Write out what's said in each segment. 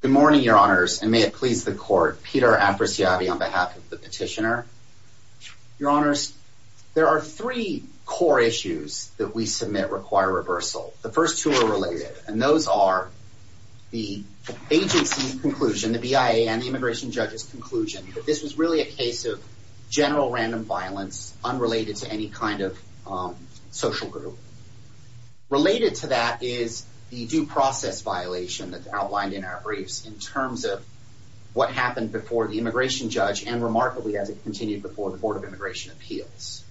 Good morning, your honors, and may it please the court. Peter Apariciabi on behalf of the petitioner. Your honors, there are three core issues that we submit require reversal. The first two are related, and those are the agency's conclusion, the BIA and the immigration judge's conclusion, that this was really a case of general random violence unrelated to any kind of social group. Related to that is the due process violation that's outlined in our briefs in terms of what happened before the immigration judge, and remarkably, as it continued before the Board of Immigration Appeals.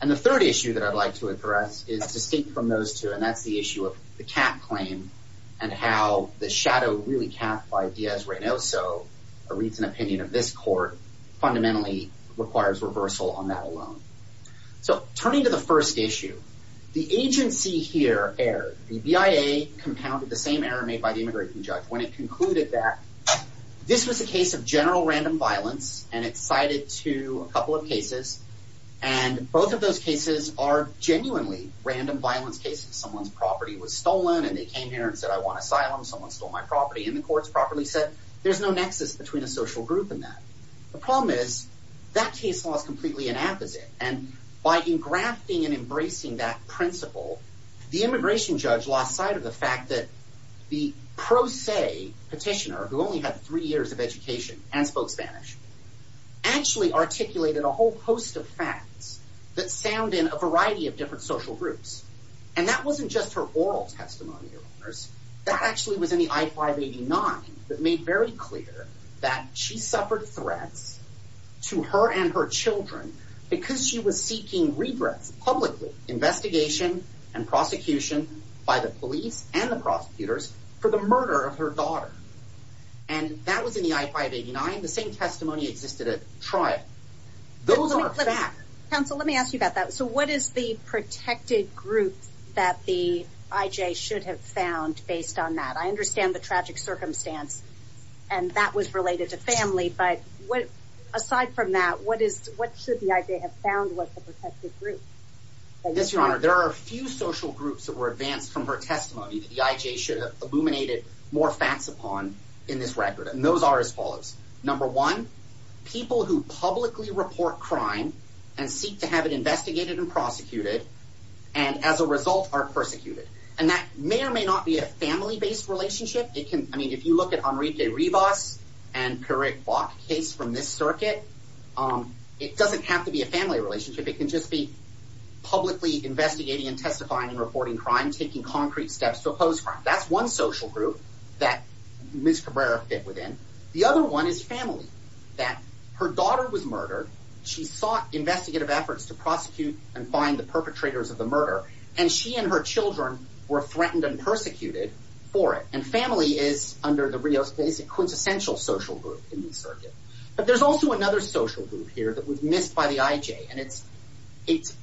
And the third issue that I'd like to address is distinct from those two, and that's the issue of the cap claim and how the shadow really capped by Diaz-Reynoso, a recent opinion of this court, fundamentally requires reversal on that alone. So turning to the first issue, the agency here, AIR, the BIA, compounded the same error made by the immigration judge when it concluded that this was a case of general random violence, and it's cited to a couple of cases, and both of those cases are genuinely random violence cases. Someone's property was stolen, and they came here and said, I want asylum. Someone stole my property. And the court's properly said, there's no nexus between a social group and that. The problem is that case law is completely inapposite, and by engrafting and embracing that principle, the immigration judge lost sight of the fact that the pro se petitioner, who only had three years of education and spoke Spanish, actually articulated a whole host of facts that sound in a variety of different social groups. And that wasn't just her oral testimony, Your Honors. That actually was in the I-589 that made very clear that she suffered threats to her and her children because she was seeking redress publicly, investigation and prosecution by the police and the prosecutors for the murder of her daughter. And that was in the I-589. The same testimony existed at trial. Those are facts. Counsel, let me ask you about that. So what is the protected group that the IJ should have found based on that? I understand the tragic circumstance, and that was related to family. But aside from that, what should the IJ have found was the protected group? Yes, Your Honor. There are a few social groups that were advanced from her testimony that the IJ should have illuminated more facts upon in this record, and those are as follows. Number one, people who publicly report crime and seek to have it investigated and prosecuted and as a result are persecuted. And that may or may not be a family based relationship. It can. I mean, if you look at Enrique Rivas and Karek Bok, a case from this circuit, it doesn't have to be a family relationship. It can just be publicly investigating and testifying and reporting crime, taking concrete steps to oppose crime. That's one social group that Ms. Cabrera fit within. The other one is family, that her daughter was murdered. She sought investigative efforts to prosecute and find the perpetrators of the murder. And she and her children were threatened and persecuted for it. And family is under the Rio's basic quintessential social group in the circuit. But there's also another social group here that was missed by the IJ. And it's it's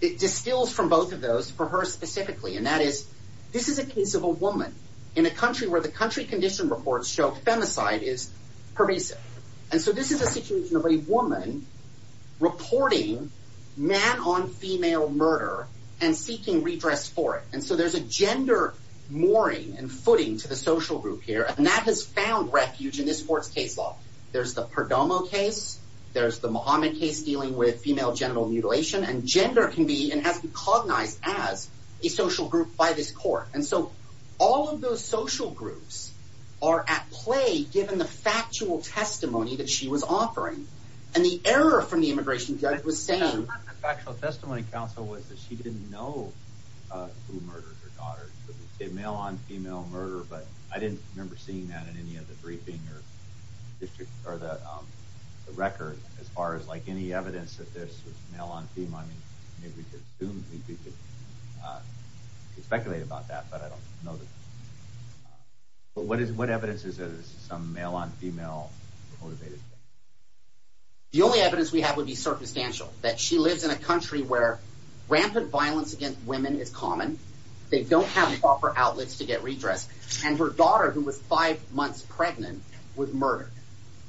it distills from both of those for her specifically. And that is this is a case of a woman in a country where the country condition reports show femicide is pervasive. And so this is a situation of a woman reporting man on female murder and seeking redress for it. And so there's a gender mooring and footing to the social group here. And that has found refuge in this court's case law. There's the Perdomo case. There's the Mohammed case dealing with female genital mutilation. And gender can be and has been cognized as a social group by this court. And so all of those social groups are at play, given the factual testimony that she was offering and the error from the immigration judge was saying. The factual testimony counsel was that she didn't know who murdered her daughter, male on female murder. But I didn't remember seeing that in any of the briefing or the record as far as like any evidence that this was male on female. I mean, maybe we could speculate about that, but I don't know. But what is what evidence is some male on female motivated? The only evidence we have would be circumstantial, that she lives in a country where rampant violence against women is common. They don't have proper outlets to get redress. And her daughter, who was five months pregnant, was murdered.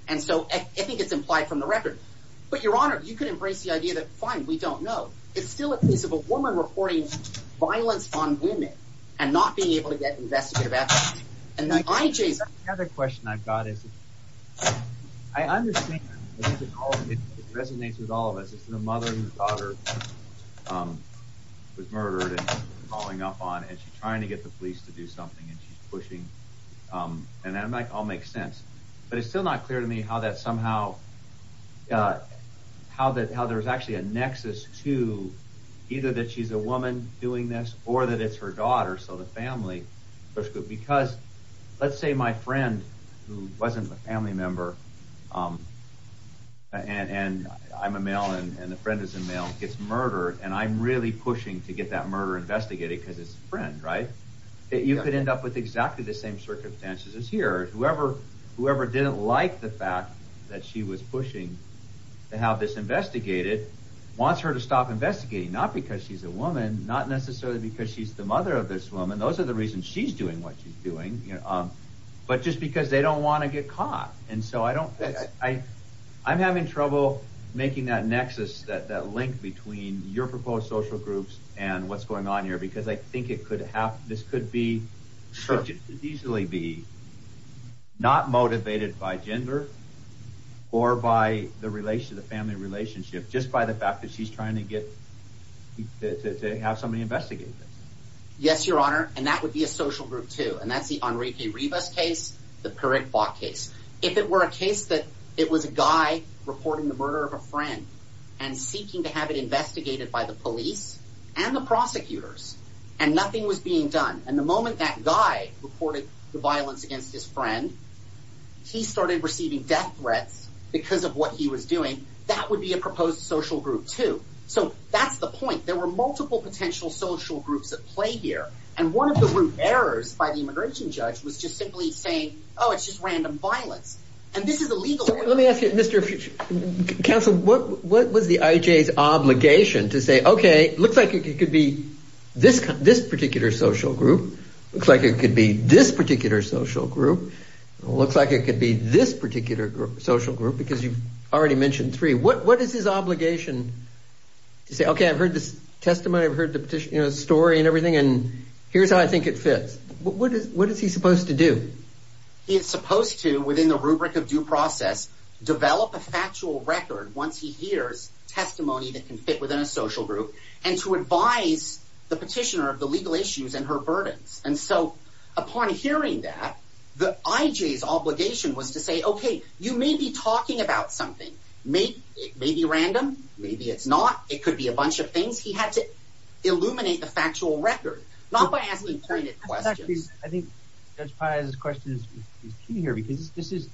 And so I think it's implied from the record. But, Your Honor, you can embrace the idea that, fine, we don't know. It's still a case of a woman reporting violence on women and not being able to get investigative action. And the other question I've got is I understand it resonates with all of us. The mother and daughter was murdered and calling up on it, trying to get the police to do something and pushing. And that might all make sense. But it's still not clear to me how that somehow how that how there's actually a nexus to either that she's a woman doing this or that it's her daughter. So the family because let's say my friend who wasn't a family member and I'm a male and the friend is a male gets murdered and I'm really pushing to get that murder investigated because it's a friend. Right. You could end up with exactly the same circumstances as here. Whoever whoever didn't like the fact that she was pushing to have this investigated wants her to stop investigating. Not because she's a woman, not necessarily because she's the mother of this woman. Those are the reasons she's doing what she's doing. But just because they don't want to get caught. And so I don't I I'm having trouble making that nexus that that link between your proposed social groups and what's going on here, because I think it could have this could be sure to easily be not motivated by gender or by the relation to the family relationship just by the fact that she's trying to get to have somebody investigate. Yes, your honor. And that would be a social group, too. And that's the Enrique Rivas case, the correct box case. If it were a case that it was a guy reporting the murder of a friend and seeking to have it investigated by the police and the prosecutors and nothing was being done. And the moment that guy reported the violence against his friend, he started receiving death threats because of what he was doing. That would be a proposed social group, too. So that's the point. There were multiple potential social groups at play here. And one of the root errors by the immigration judge was just simply saying, oh, it's just random violence. And this is a legal. Let me ask you, Mr. Council, what what was the IJ's obligation to say? OK, looks like it could be this this particular social group. Looks like it could be this particular social group. Looks like it could be this particular social group because you've already mentioned three. What is his obligation to say? OK, I've heard this testimony. I've heard the story and everything. And here's how I think it fits. What is what is he supposed to do? He is supposed to, within the rubric of due process, develop a factual record once he hears testimony that can fit within a social group and to advise the petitioner of the legal issues and her burdens. And so upon hearing that, the IJ's obligation was to say, OK, you may be talking about something may be random. Maybe it's not. It could be a bunch of things. He had to illuminate the factual record, not by asking pointed questions. I think this question is here because this is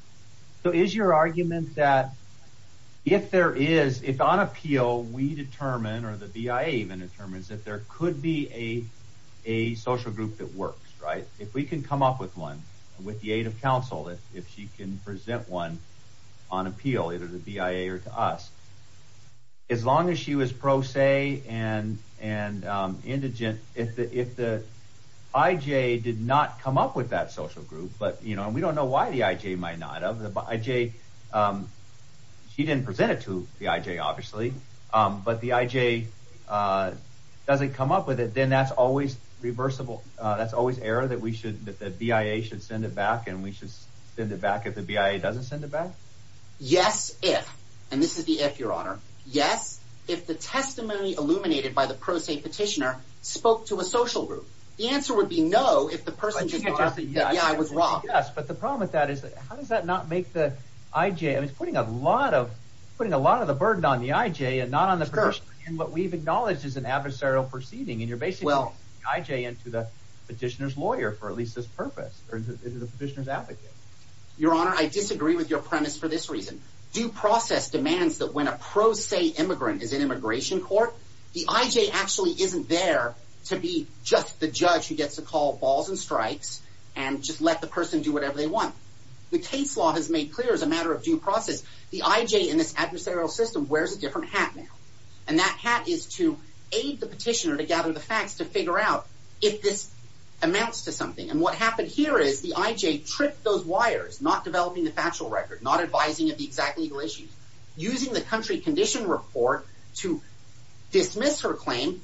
so is your argument that if there is, if on appeal we determine or the BIA even determines that there could be a a social group that works right? If we can come up with one with the aid of counsel, if she can present one on appeal, either the BIA or to us. As long as she was pro se and and indigent, if the if the IJ did not come up with that social group, but you know, we don't know why the IJ might not have the IJ. She didn't present it to the IJ, obviously, but the IJ doesn't come up with it, then that's always reversible. That's always error that we should that the BIA should send it back and we should send it back if the BIA doesn't send it back. Yes, if and this is the if your honor, yes, if the testimony illuminated by the pro se petitioner spoke to a social group, the answer would be no. If the person was wrong, yes, but the problem with that is that how does that not make the IJ putting a lot of putting a lot of the burden on the IJ and not on the first? And what we've acknowledged is an adversarial proceeding. And you're basically IJ into the petitioner's lawyer for at least this purpose or the petitioner's advocate. Your honor, I disagree with your premise for this reason. Due process demands that when a pro se immigrant is in immigration court, the IJ actually isn't there to be just the judge who gets to call balls and strikes and just let the person do whatever they want. The case law has made clear as a matter of due process, the IJ in this adversarial system wears a different hat now, and that hat is to aid the petitioner to gather the facts to figure out if this amounts to something. And what happened here is the IJ tripped those wires, not developing the factual record, not advising of the exact legal issues, using the country condition report to dismiss her claim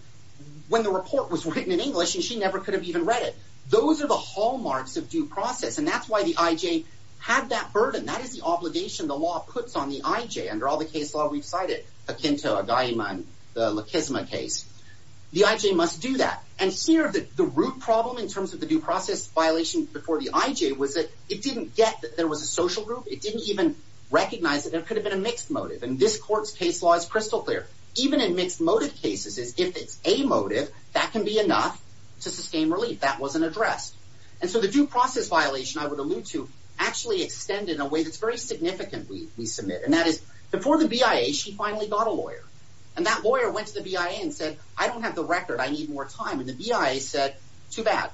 when the report was written in English and she never could have even read it. Those are the hallmarks of due process. And that's why the IJ had that burden. That is the obligation the law puts on the IJ under all the case law we've cited, akin to a guy in the Kizma case. The IJ must do that. And here, the root problem in terms of the due process violation before the IJ was that it didn't get that there was a social group. It didn't even recognize that there could have been a mixed motive. And this court's case law is crystal clear. Even in mixed motive cases, if it's a motive, that can be enough to sustain relief. That wasn't addressed. And so the due process violation, I would allude to, actually extended in a way that's very significant we submit. And that is before the BIA, she finally got a lawyer. And that lawyer went to the BIA and said, I don't have the record. I need more time. And the BIA said, too bad.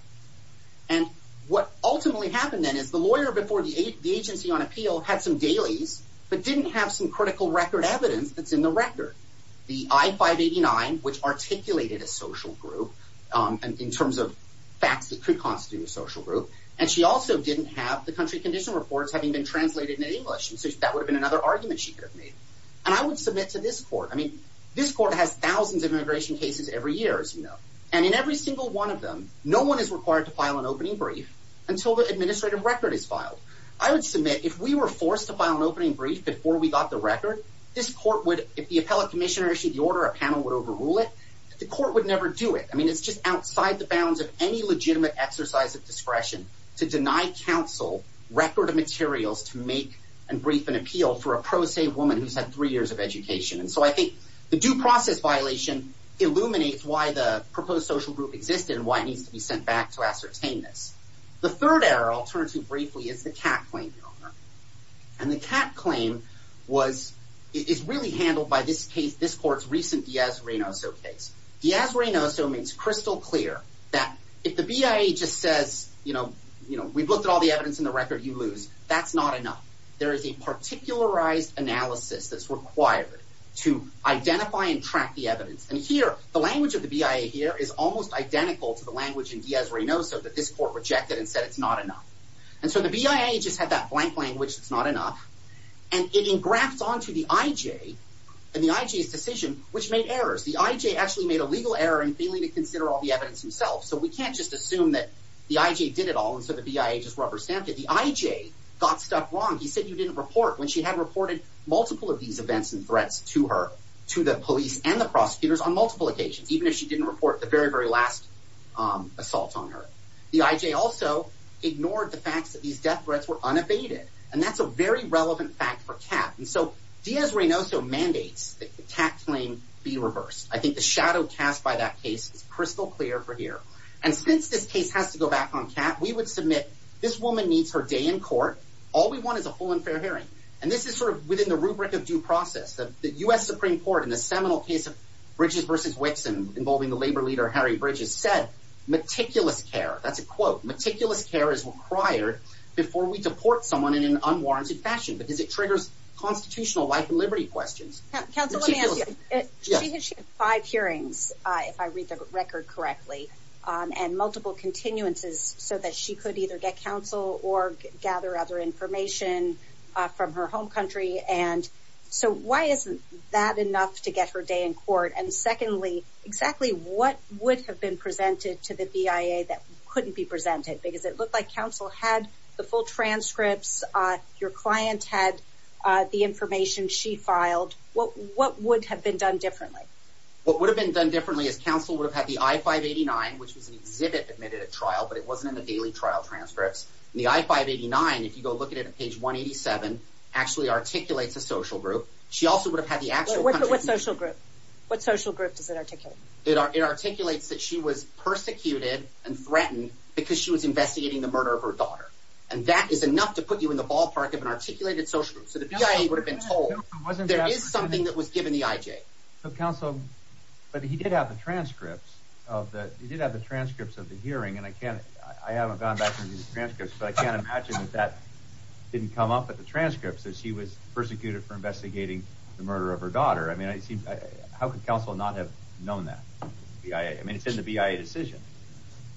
And what ultimately happened then is the lawyer before the agency on appeal had some dailies, but didn't have some critical record evidence that's in the record. The I-589, which articulated a social group in terms of facts that could constitute a social group. And she also didn't have the country condition reports having been translated into English. And so that would've been another argument she could have made. And I would submit to this court. I mean, this court has thousands of immigration cases every year, as you know. And in every single one of them, no one is required to file an opening brief until the administrative record is filed. I would submit if we were forced to file an opening brief before we got the record, this court would, if the appellate commissioner issued the order, a panel would overrule it. The court would never do it. I mean, it's just outside the bounds of any legitimate exercise of discretion to deny counsel record of materials to make and brief an appeal for a pro se woman who's had three years of education. And so I think the due process violation illuminates why the proposed social group existed and why it needs to be sent back to ascertain this. The third error, I'll turn to briefly, is the cat claim. And the cat claim was, is really handled by this case, this court's recent Diaz-Reynoso case. Diaz-Reynoso makes crystal clear that if the BIA just says, you know, you know, we've looked at all the evidence in the record, you lose. That's not enough. There is a particularized analysis that's required to identify and track the evidence. And here, the language of the BIA here is almost identical to the language in Diaz-Reynoso that this court rejected and said it's not enough. And so the BIA just had that blank language, it's not enough. And it engrafts onto the IJ and the IJ's decision, which made errors. The IJ actually made a legal error in failing to consider all the evidence himself. So we can't just assume that the IJ did it all. And so the BIA just rubber stamped it. The IJ got stuff wrong. He said you didn't report when she had reported multiple of these events and threats to her, to the police and the prosecutors on multiple occasions, even if she didn't report the very, very last assault on her. The IJ also ignored the facts that these death threats were unabated. And that's a very relevant fact for CAT. And so Diaz-Reynoso mandates that the CAT claim be reversed. I think the shadow cast by that case is crystal clear for here. And since this case has to go back on CAT, we would submit this woman needs her day in court. All we want is a full and fair hearing. And this is sort of within the rubric of due process. The U.S. Supreme Court in the seminal case of Bridges versus Wixon involving the labor leader, Harry Bridges, said meticulous care. That's a quote. Meticulous care is required before we deport someone in an unwarranted fashion because it triggers constitutional life and liberty questions. Counsel, let me ask you, she had five hearings, if I read the record correctly, and multiple continuances so that she could either get counsel or gather other information from her home country. And so why isn't that enough to get her day in court? And secondly, exactly what would have been presented to the BIA that couldn't be presented? Because it looked like counsel had the full transcripts. Your client had the information she filed. What what would have been done differently? What would have been done differently is counsel would have had the I-589, which was an exhibit admitted at trial, but it wasn't in the daily trial transcripts. The I-589, if you go look at it at page 187, actually articulates a social group. She also would have had the actual. What social group? What social group does it articulate? It articulates that she was persecuted and threatened because she was investigating the murder of her daughter. And that is enough to put you in the ballpark of an articulated social group. So the BIA would have been told there is something that was given the IJ. So, counsel, but he did have the transcripts of the hearing. And I can't I haven't gone back to these transcripts, but I can't imagine that that didn't come up at the transcripts that she was persecuted for investigating the murder of her daughter. I mean, I think how could counsel not have known that? Yeah, I mean, it's in the BIA decision.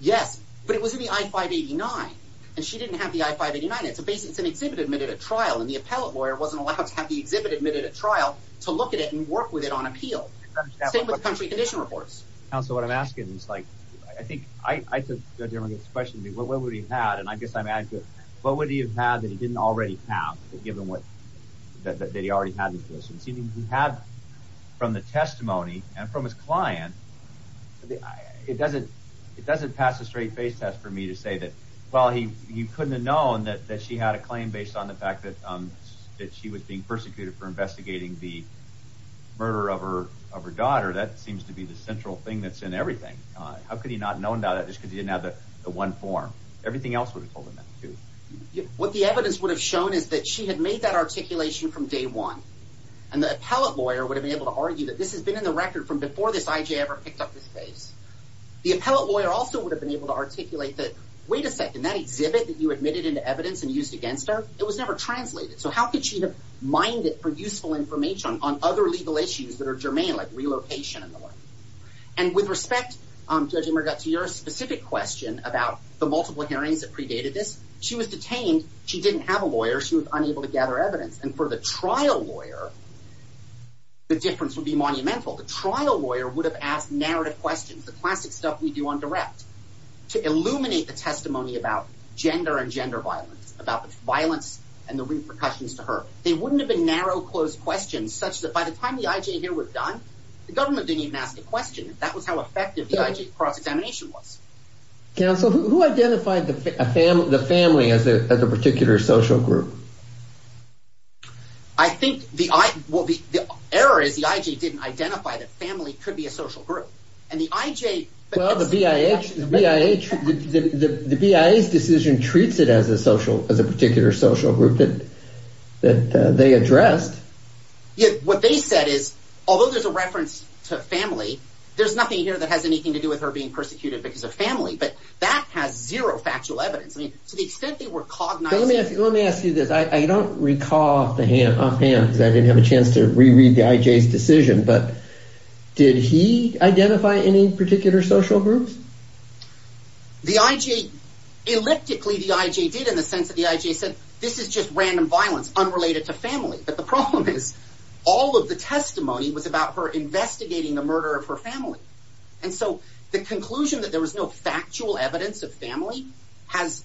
Yes, but it was in the I-589 and she didn't have the I-589. It's a basic it's an exhibit admitted at trial. And the appellate lawyer wasn't allowed to have the exhibit admitted at trial to look at it and work with it on appeal. Same with the country condition reports. Counsel, what I'm asking is, like, I think I think the question would be, well, what would he have? And I guess I'm asking, what would he have had that he didn't already have given what that he already had? And so you have from the testimony and from his client, it doesn't it doesn't pass a straight face test for me to say that, well, he you couldn't have known that that she had a claim based on the fact that that she was being persecuted for investigating the murder of her of her daughter. That seems to be the central thing that's in everything. How could he not known that just because he didn't have the one form? Everything else would have told him that, too. What the evidence would have shown is that she had made that articulation from day one. And the appellate lawyer would have been able to argue that this has been in the record from before this IJ ever picked up this case. The appellate lawyer also would have been able to articulate that. Wait a second, that exhibit that you admitted into evidence and used against her. It was never translated. So how could she have mined it for useful information on other legal issues that are germane, like relocation and the like? And with respect to your specific question about the multiple hearings that predated this, she was detained. She didn't have a lawyer. She was unable to gather evidence. And for the trial lawyer, the difference would be monumental. The trial lawyer would have asked narrative questions, the classic stuff we do on direct to illuminate the testimony about gender and gender violence, about violence and the repercussions to her. They wouldn't have been narrow, closed questions such that by the time the IJ here was done, the government didn't even ask a question. That was how effective the IJ cross-examination was. Counsel, who identified the family as a particular social group? I think the I will be the error is the IJ didn't identify that family could be a social group and the IJ. But the BIA, the BIA, the BIA's decision treats it as a social as a particular social group that that they addressed. Yet what they said is, although there's a reference to family, there's nothing here that has anything to do with her being persecuted because of family. But that has zero factual evidence. I mean, to the extent they were caught. Let me ask you this. I don't recall offhand because I didn't have a chance to reread the IJ's decision. But did he identify any particular social groups? The IJ, elliptically, the IJ did in the sense of the IJ said this is just random violence unrelated to family. But the problem is all of the testimony was about her investigating the murder of her family. And so the conclusion that there was no factual evidence of family has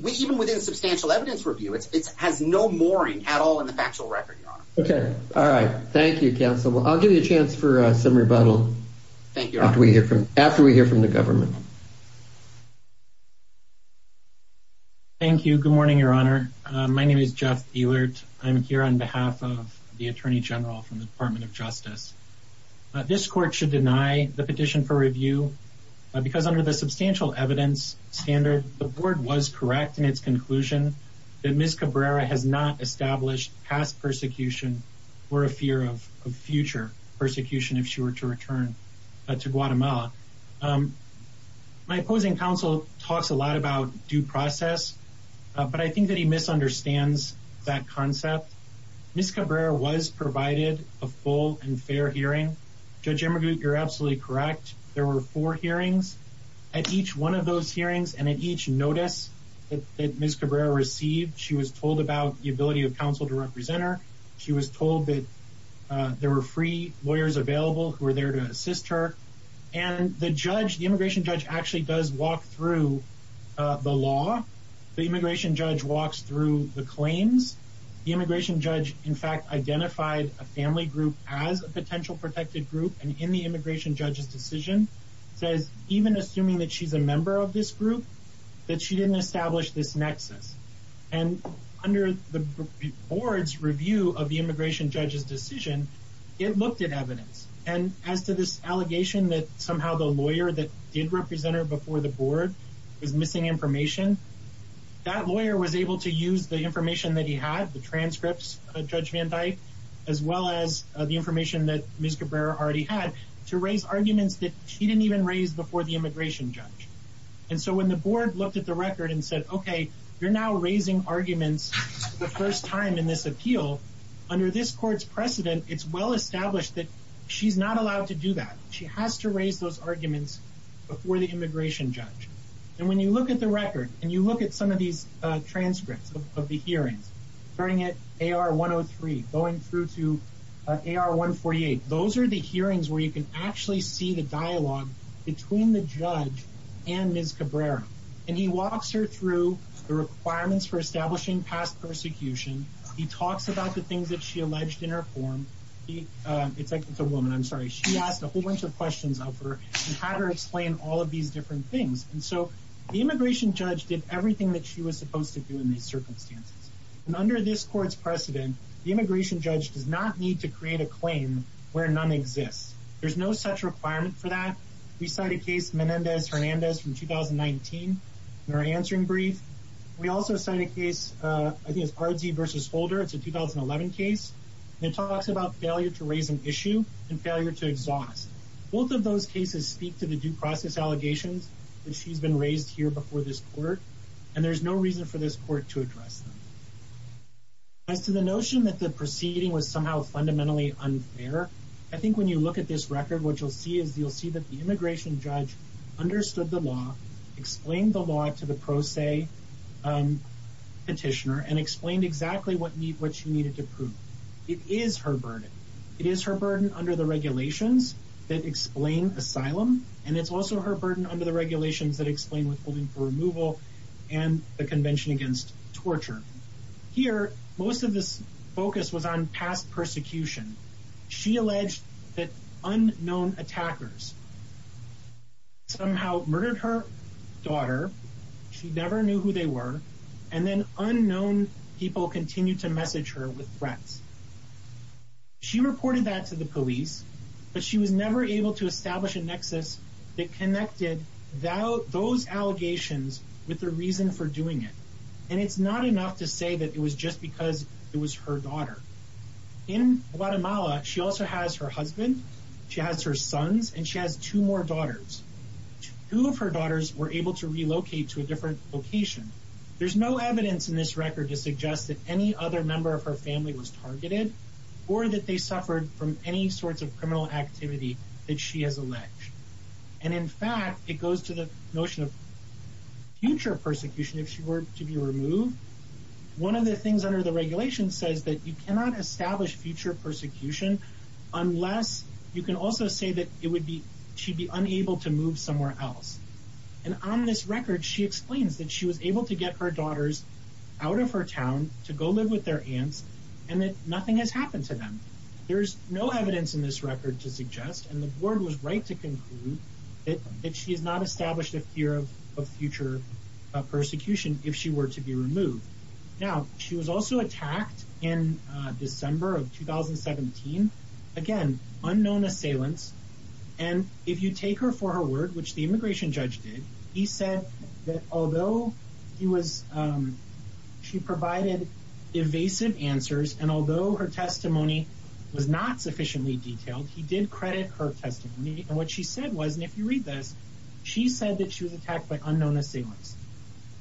we even within substantial evidence review, it has no mooring at all in the factual record. OK. All right. Thank you, counsel. Well, I'll give you a chance for some rebuttal. Thank you. After we hear from after we hear from the government. Thank you. Good morning, Your Honor. My name is Jeff Ewert. I'm here on behalf of the attorney general from the Department of Justice. This court should deny the petition for review because under the substantial evidence standard, the board was correct in its conclusion that Ms. Cabrera has not established past persecution or a fear of future persecution if she were to return to Guatemala. My opposing counsel talks a lot about due process, but I think that he misunderstands that concept. Ms. Cabrera was provided a full and fair hearing. Judge Emigut, you're absolutely correct. There were four hearings at each one of those hearings and at each notice that Ms. Cabrera received, she was told about the ability of counsel to represent her. She was told that there were free lawyers available who were there to assist her. And the judge, the immigration judge, actually does walk through the law. The immigration judge walks through the claims. The immigration judge, in fact, identified a family group as a potential protected group. And in the immigration judge's decision, says even assuming that she's a member of this group, that she didn't establish this nexus. And under the board's review of the immigration judge's decision, it looked at evidence. And as to this allegation that somehow the lawyer that did represent her before the board was missing information, that lawyer was able to use the information that he had, the transcripts of Judge Van Dyke, as well as the information that Ms. Cabrera already had to raise arguments that she didn't even raise before the immigration judge. And so when the board looked at the record and said, OK, you're now raising arguments for the first time in this appeal under this court's precedent. It's well established that she's not allowed to do that. She has to raise those arguments before the immigration judge. And when you look at the record and you look at some of these transcripts of the hearings, starting at AR 103, going through to AR 148, those are the hearings where you can actually see the dialogue between the judge and Ms. Cabrera. And he walks her through the requirements for establishing past persecution. He talks about the things that she alleged in her form. It's like it's a woman. I'm sorry. She asked a whole bunch of questions of her and had her explain all of these different things. And so the immigration judge did everything that she was supposed to do in these circumstances. And under this court's precedent, the immigration judge does not need to create a claim where none exists. There's no such requirement for that. We cite a case, Menendez-Hernandez from 2019 in our answering brief. We also cite a case, I think it's Ardzee versus Holder. It's a 2011 case. It talks about failure to raise an issue and failure to exhaust. Both of those cases speak to the due process allegations that she's been raised here before this court, and there's no reason for this court to address them. As to the notion that the proceeding was somehow fundamentally unfair, I think when you look at this record, what you'll see is you'll see that the immigration judge understood the law, explained the law to the pro se petitioner and explained exactly what she needed to prove. It is her burden. It is her burden under the regulations that explain asylum. And it's also her burden under the regulations that explain withholding for removal and the convention against torture. Here, most of this focus was on past persecution. She alleged that unknown attackers somehow murdered her daughter. She never knew who they were. And then unknown people continue to message her with threats. She reported that to the police, but she was never able to establish a nexus that connected those allegations with the reason for doing it. And it's not enough to say that it was just because it was her daughter. In Guatemala, she also has her husband, she has her sons, and she has two more daughters. Two of her daughters were able to relocate to a different location. There's no evidence in this record to suggest that any other member of her family was targeted or that they suffered from any sorts of criminal activity that she has alleged. And in fact, it goes to the notion of future persecution if she were to be removed. One of the things under the regulation says that you cannot establish future persecution unless you can also say that it would be she'd be unable to move somewhere else. And on this record, she explains that she was able to get her daughters out of her town to go live with their aunts and that nothing has happened to them. There's no evidence in this record to suggest, and the board was right to conclude, that she has not established a fear of future persecution if she were to be removed. Now, she was also attacked in December of 2017. Again, unknown assailants. And if you take her for her word, which the immigration judge did, he said that although she provided evasive answers and although her testimony was not sufficiently detailed, he did credit her testimony. And what she said was, and if you read this, she said that she was attacked by unknown assailants.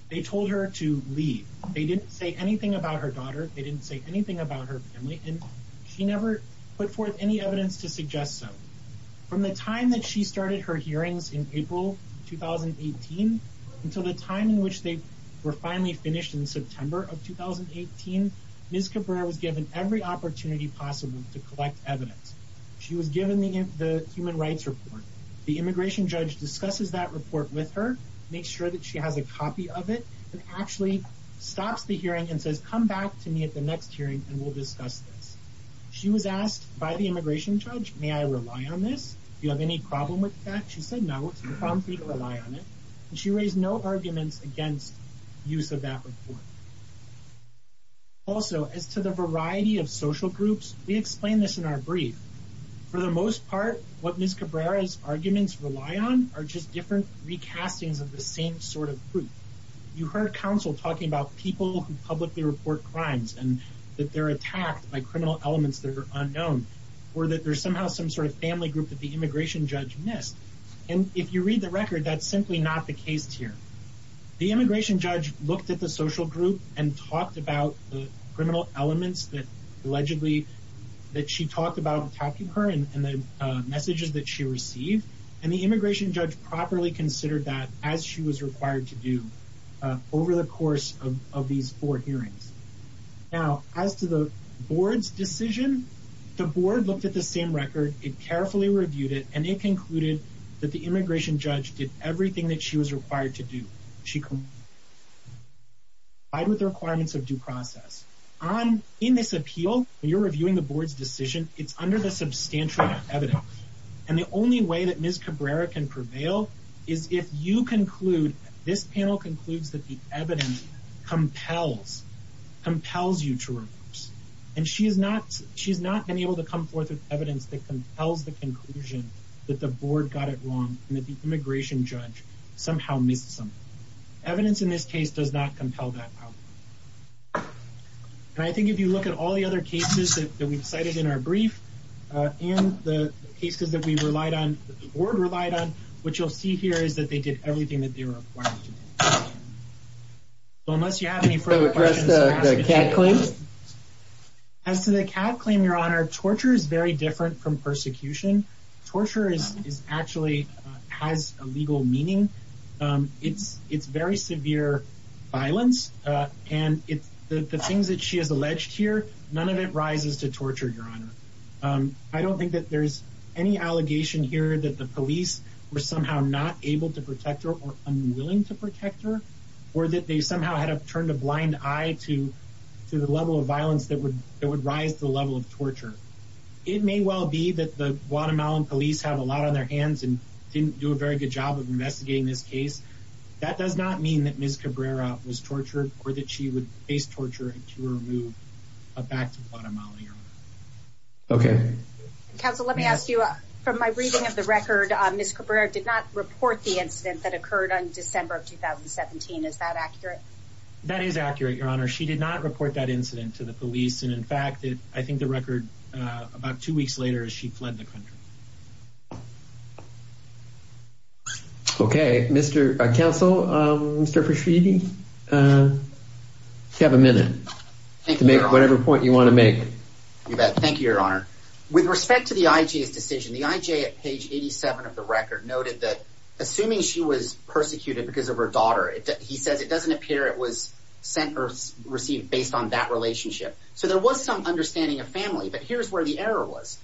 They told her to leave. They didn't say anything about her daughter. They didn't say anything about her family. And she never put forth any evidence to suggest so. From the time that she started her hearings in April 2018 until the time in which they were finally finished in September of 2018, Ms. Cabrera was given every opportunity possible to collect evidence. She was given the human rights report. The immigration judge discusses that report with her, makes sure that she has a copy of it, and actually stops the hearing and says, come back to me at the next hearing and we'll discuss this. She was asked by the immigration judge, may I rely on this? Do you have any problem with that? She said, no, it's a problem for me to rely on it. And she raised no arguments against use of that report. Also, as to the variety of social groups, we explain this in our brief. For the most part, what Ms. Cabrera's arguments rely on are just different recastings of the same sort of group. You heard counsel talking about people who publicly report crimes and that they're attacked by criminal elements that are unknown, or that there's somehow some sort of family group that the immigration judge missed. And if you read the record, that's simply not the case here. The immigration judge looked at the social group and talked about the criminal elements that allegedly that she talked about attacking her and the messages that she received. And the immigration judge properly considered that as she was required to do over the course of these four hearings. Now, as to the board's decision, the board looked at the same record, it carefully reviewed it, and it concluded that the immigration judge did everything that she was required to do. She complied with the requirements of due process. In this appeal, when you're reviewing the board's decision, it's under the substantial evidence. And the only way that Ms. Cabrera can prevail is if you conclude, this panel concludes, that the evidence compels you to reverse. And she's not been able to come forth with evidence that compels the conclusion that the board got it wrong and that the immigration judge somehow missed something. Evidence in this case does not compel that. And I think if you look at all the other cases that we've cited in our brief and the cases that we relied on, that the board relied on, what you'll see here is that they did everything that they were required to do. Unless you have any further questions. Can you address the CAD claim? As to the CAD claim, Your Honor, torture is very different from persecution. Torture is actually has a legal meaning. It's very severe violence. And the things that she has alleged here, none of it rises to torture, Your Honor. I don't think that there's any allegation here that the police were somehow not able to protect her or unwilling to protect her, or that they somehow had turned a blind eye to the level of violence that would rise to the level of torture. It may well be that the Guatemalan police have a lot on their hands and didn't do a very good job of investigating this case. That does not mean that Ms. Cabrera was tortured or that she would face torture to remove a back to Guatemala, Your Honor. Okay. Counsel, let me ask you, from my reading of the record, Ms. Cabrera did not report the incident that occurred on December of 2017. Is that accurate? That is accurate, Your Honor. She did not report that incident to the police. And in fact, I think the record about two weeks later, she fled the country. Okay, Mr. Counsel, Mr. Frischidi, you have a minute to make whatever point you want to make. You bet. Thank you, Your Honor. With respect to the IJ's decision, the IJ at page 87 of the record noted that assuming she was persecuted because of her daughter, he says it doesn't appear it was sent or received based on that relationship. So there was some understanding of family. But here's where the error was.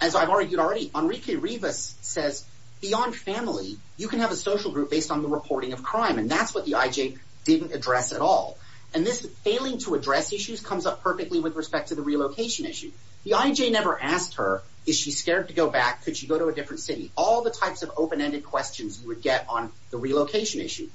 As I've argued already, Enrique Rivas says beyond family, you can have a social group based on the reporting of crime. And that's what the IJ didn't address at all. And this failing to address issues comes up perfectly with respect to the relocation issue. The IJ never asked her, is she scared to go back? Could she go to a different city? All the types of open-ended questions you would get on the relocation issue.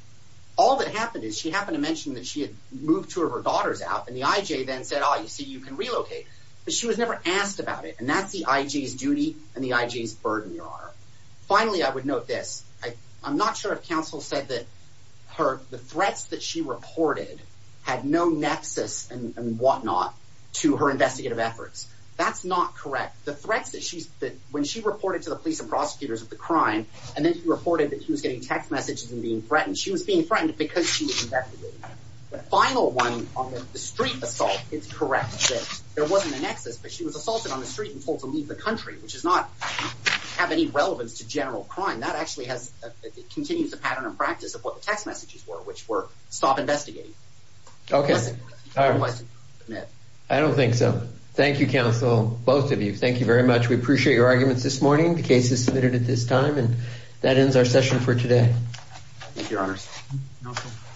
All that happened is she happened to mention that she had moved two of her daughters out. And the IJ then said, oh, you see, you can relocate. But she was never asked about it. And that's the IJ's duty and the IJ's burden, Your Honor. Finally, I would note this. I'm not sure if counsel said that the threats that she reported had no nexus and whatnot to her investigative efforts. That's not correct. The threats that she's, that when she reported to the police and prosecutors of the crime and then reported that she was getting text messages and being threatened, she was being threatened because she was an investigator. The final one on the street assault, it's correct that there wasn't a nexus, but she was assaulted on the street and told to leave the country, which does not have any relevance to general crime. That actually has, it continues the pattern of practice of what the text messages were, which were stop investigating. Okay. I don't think so. Thank you, counsel. Both of you. Thank you very much. We appreciate your arguments this morning. The case is submitted at this time. And that ends our session for today. Thank you, Your Honor.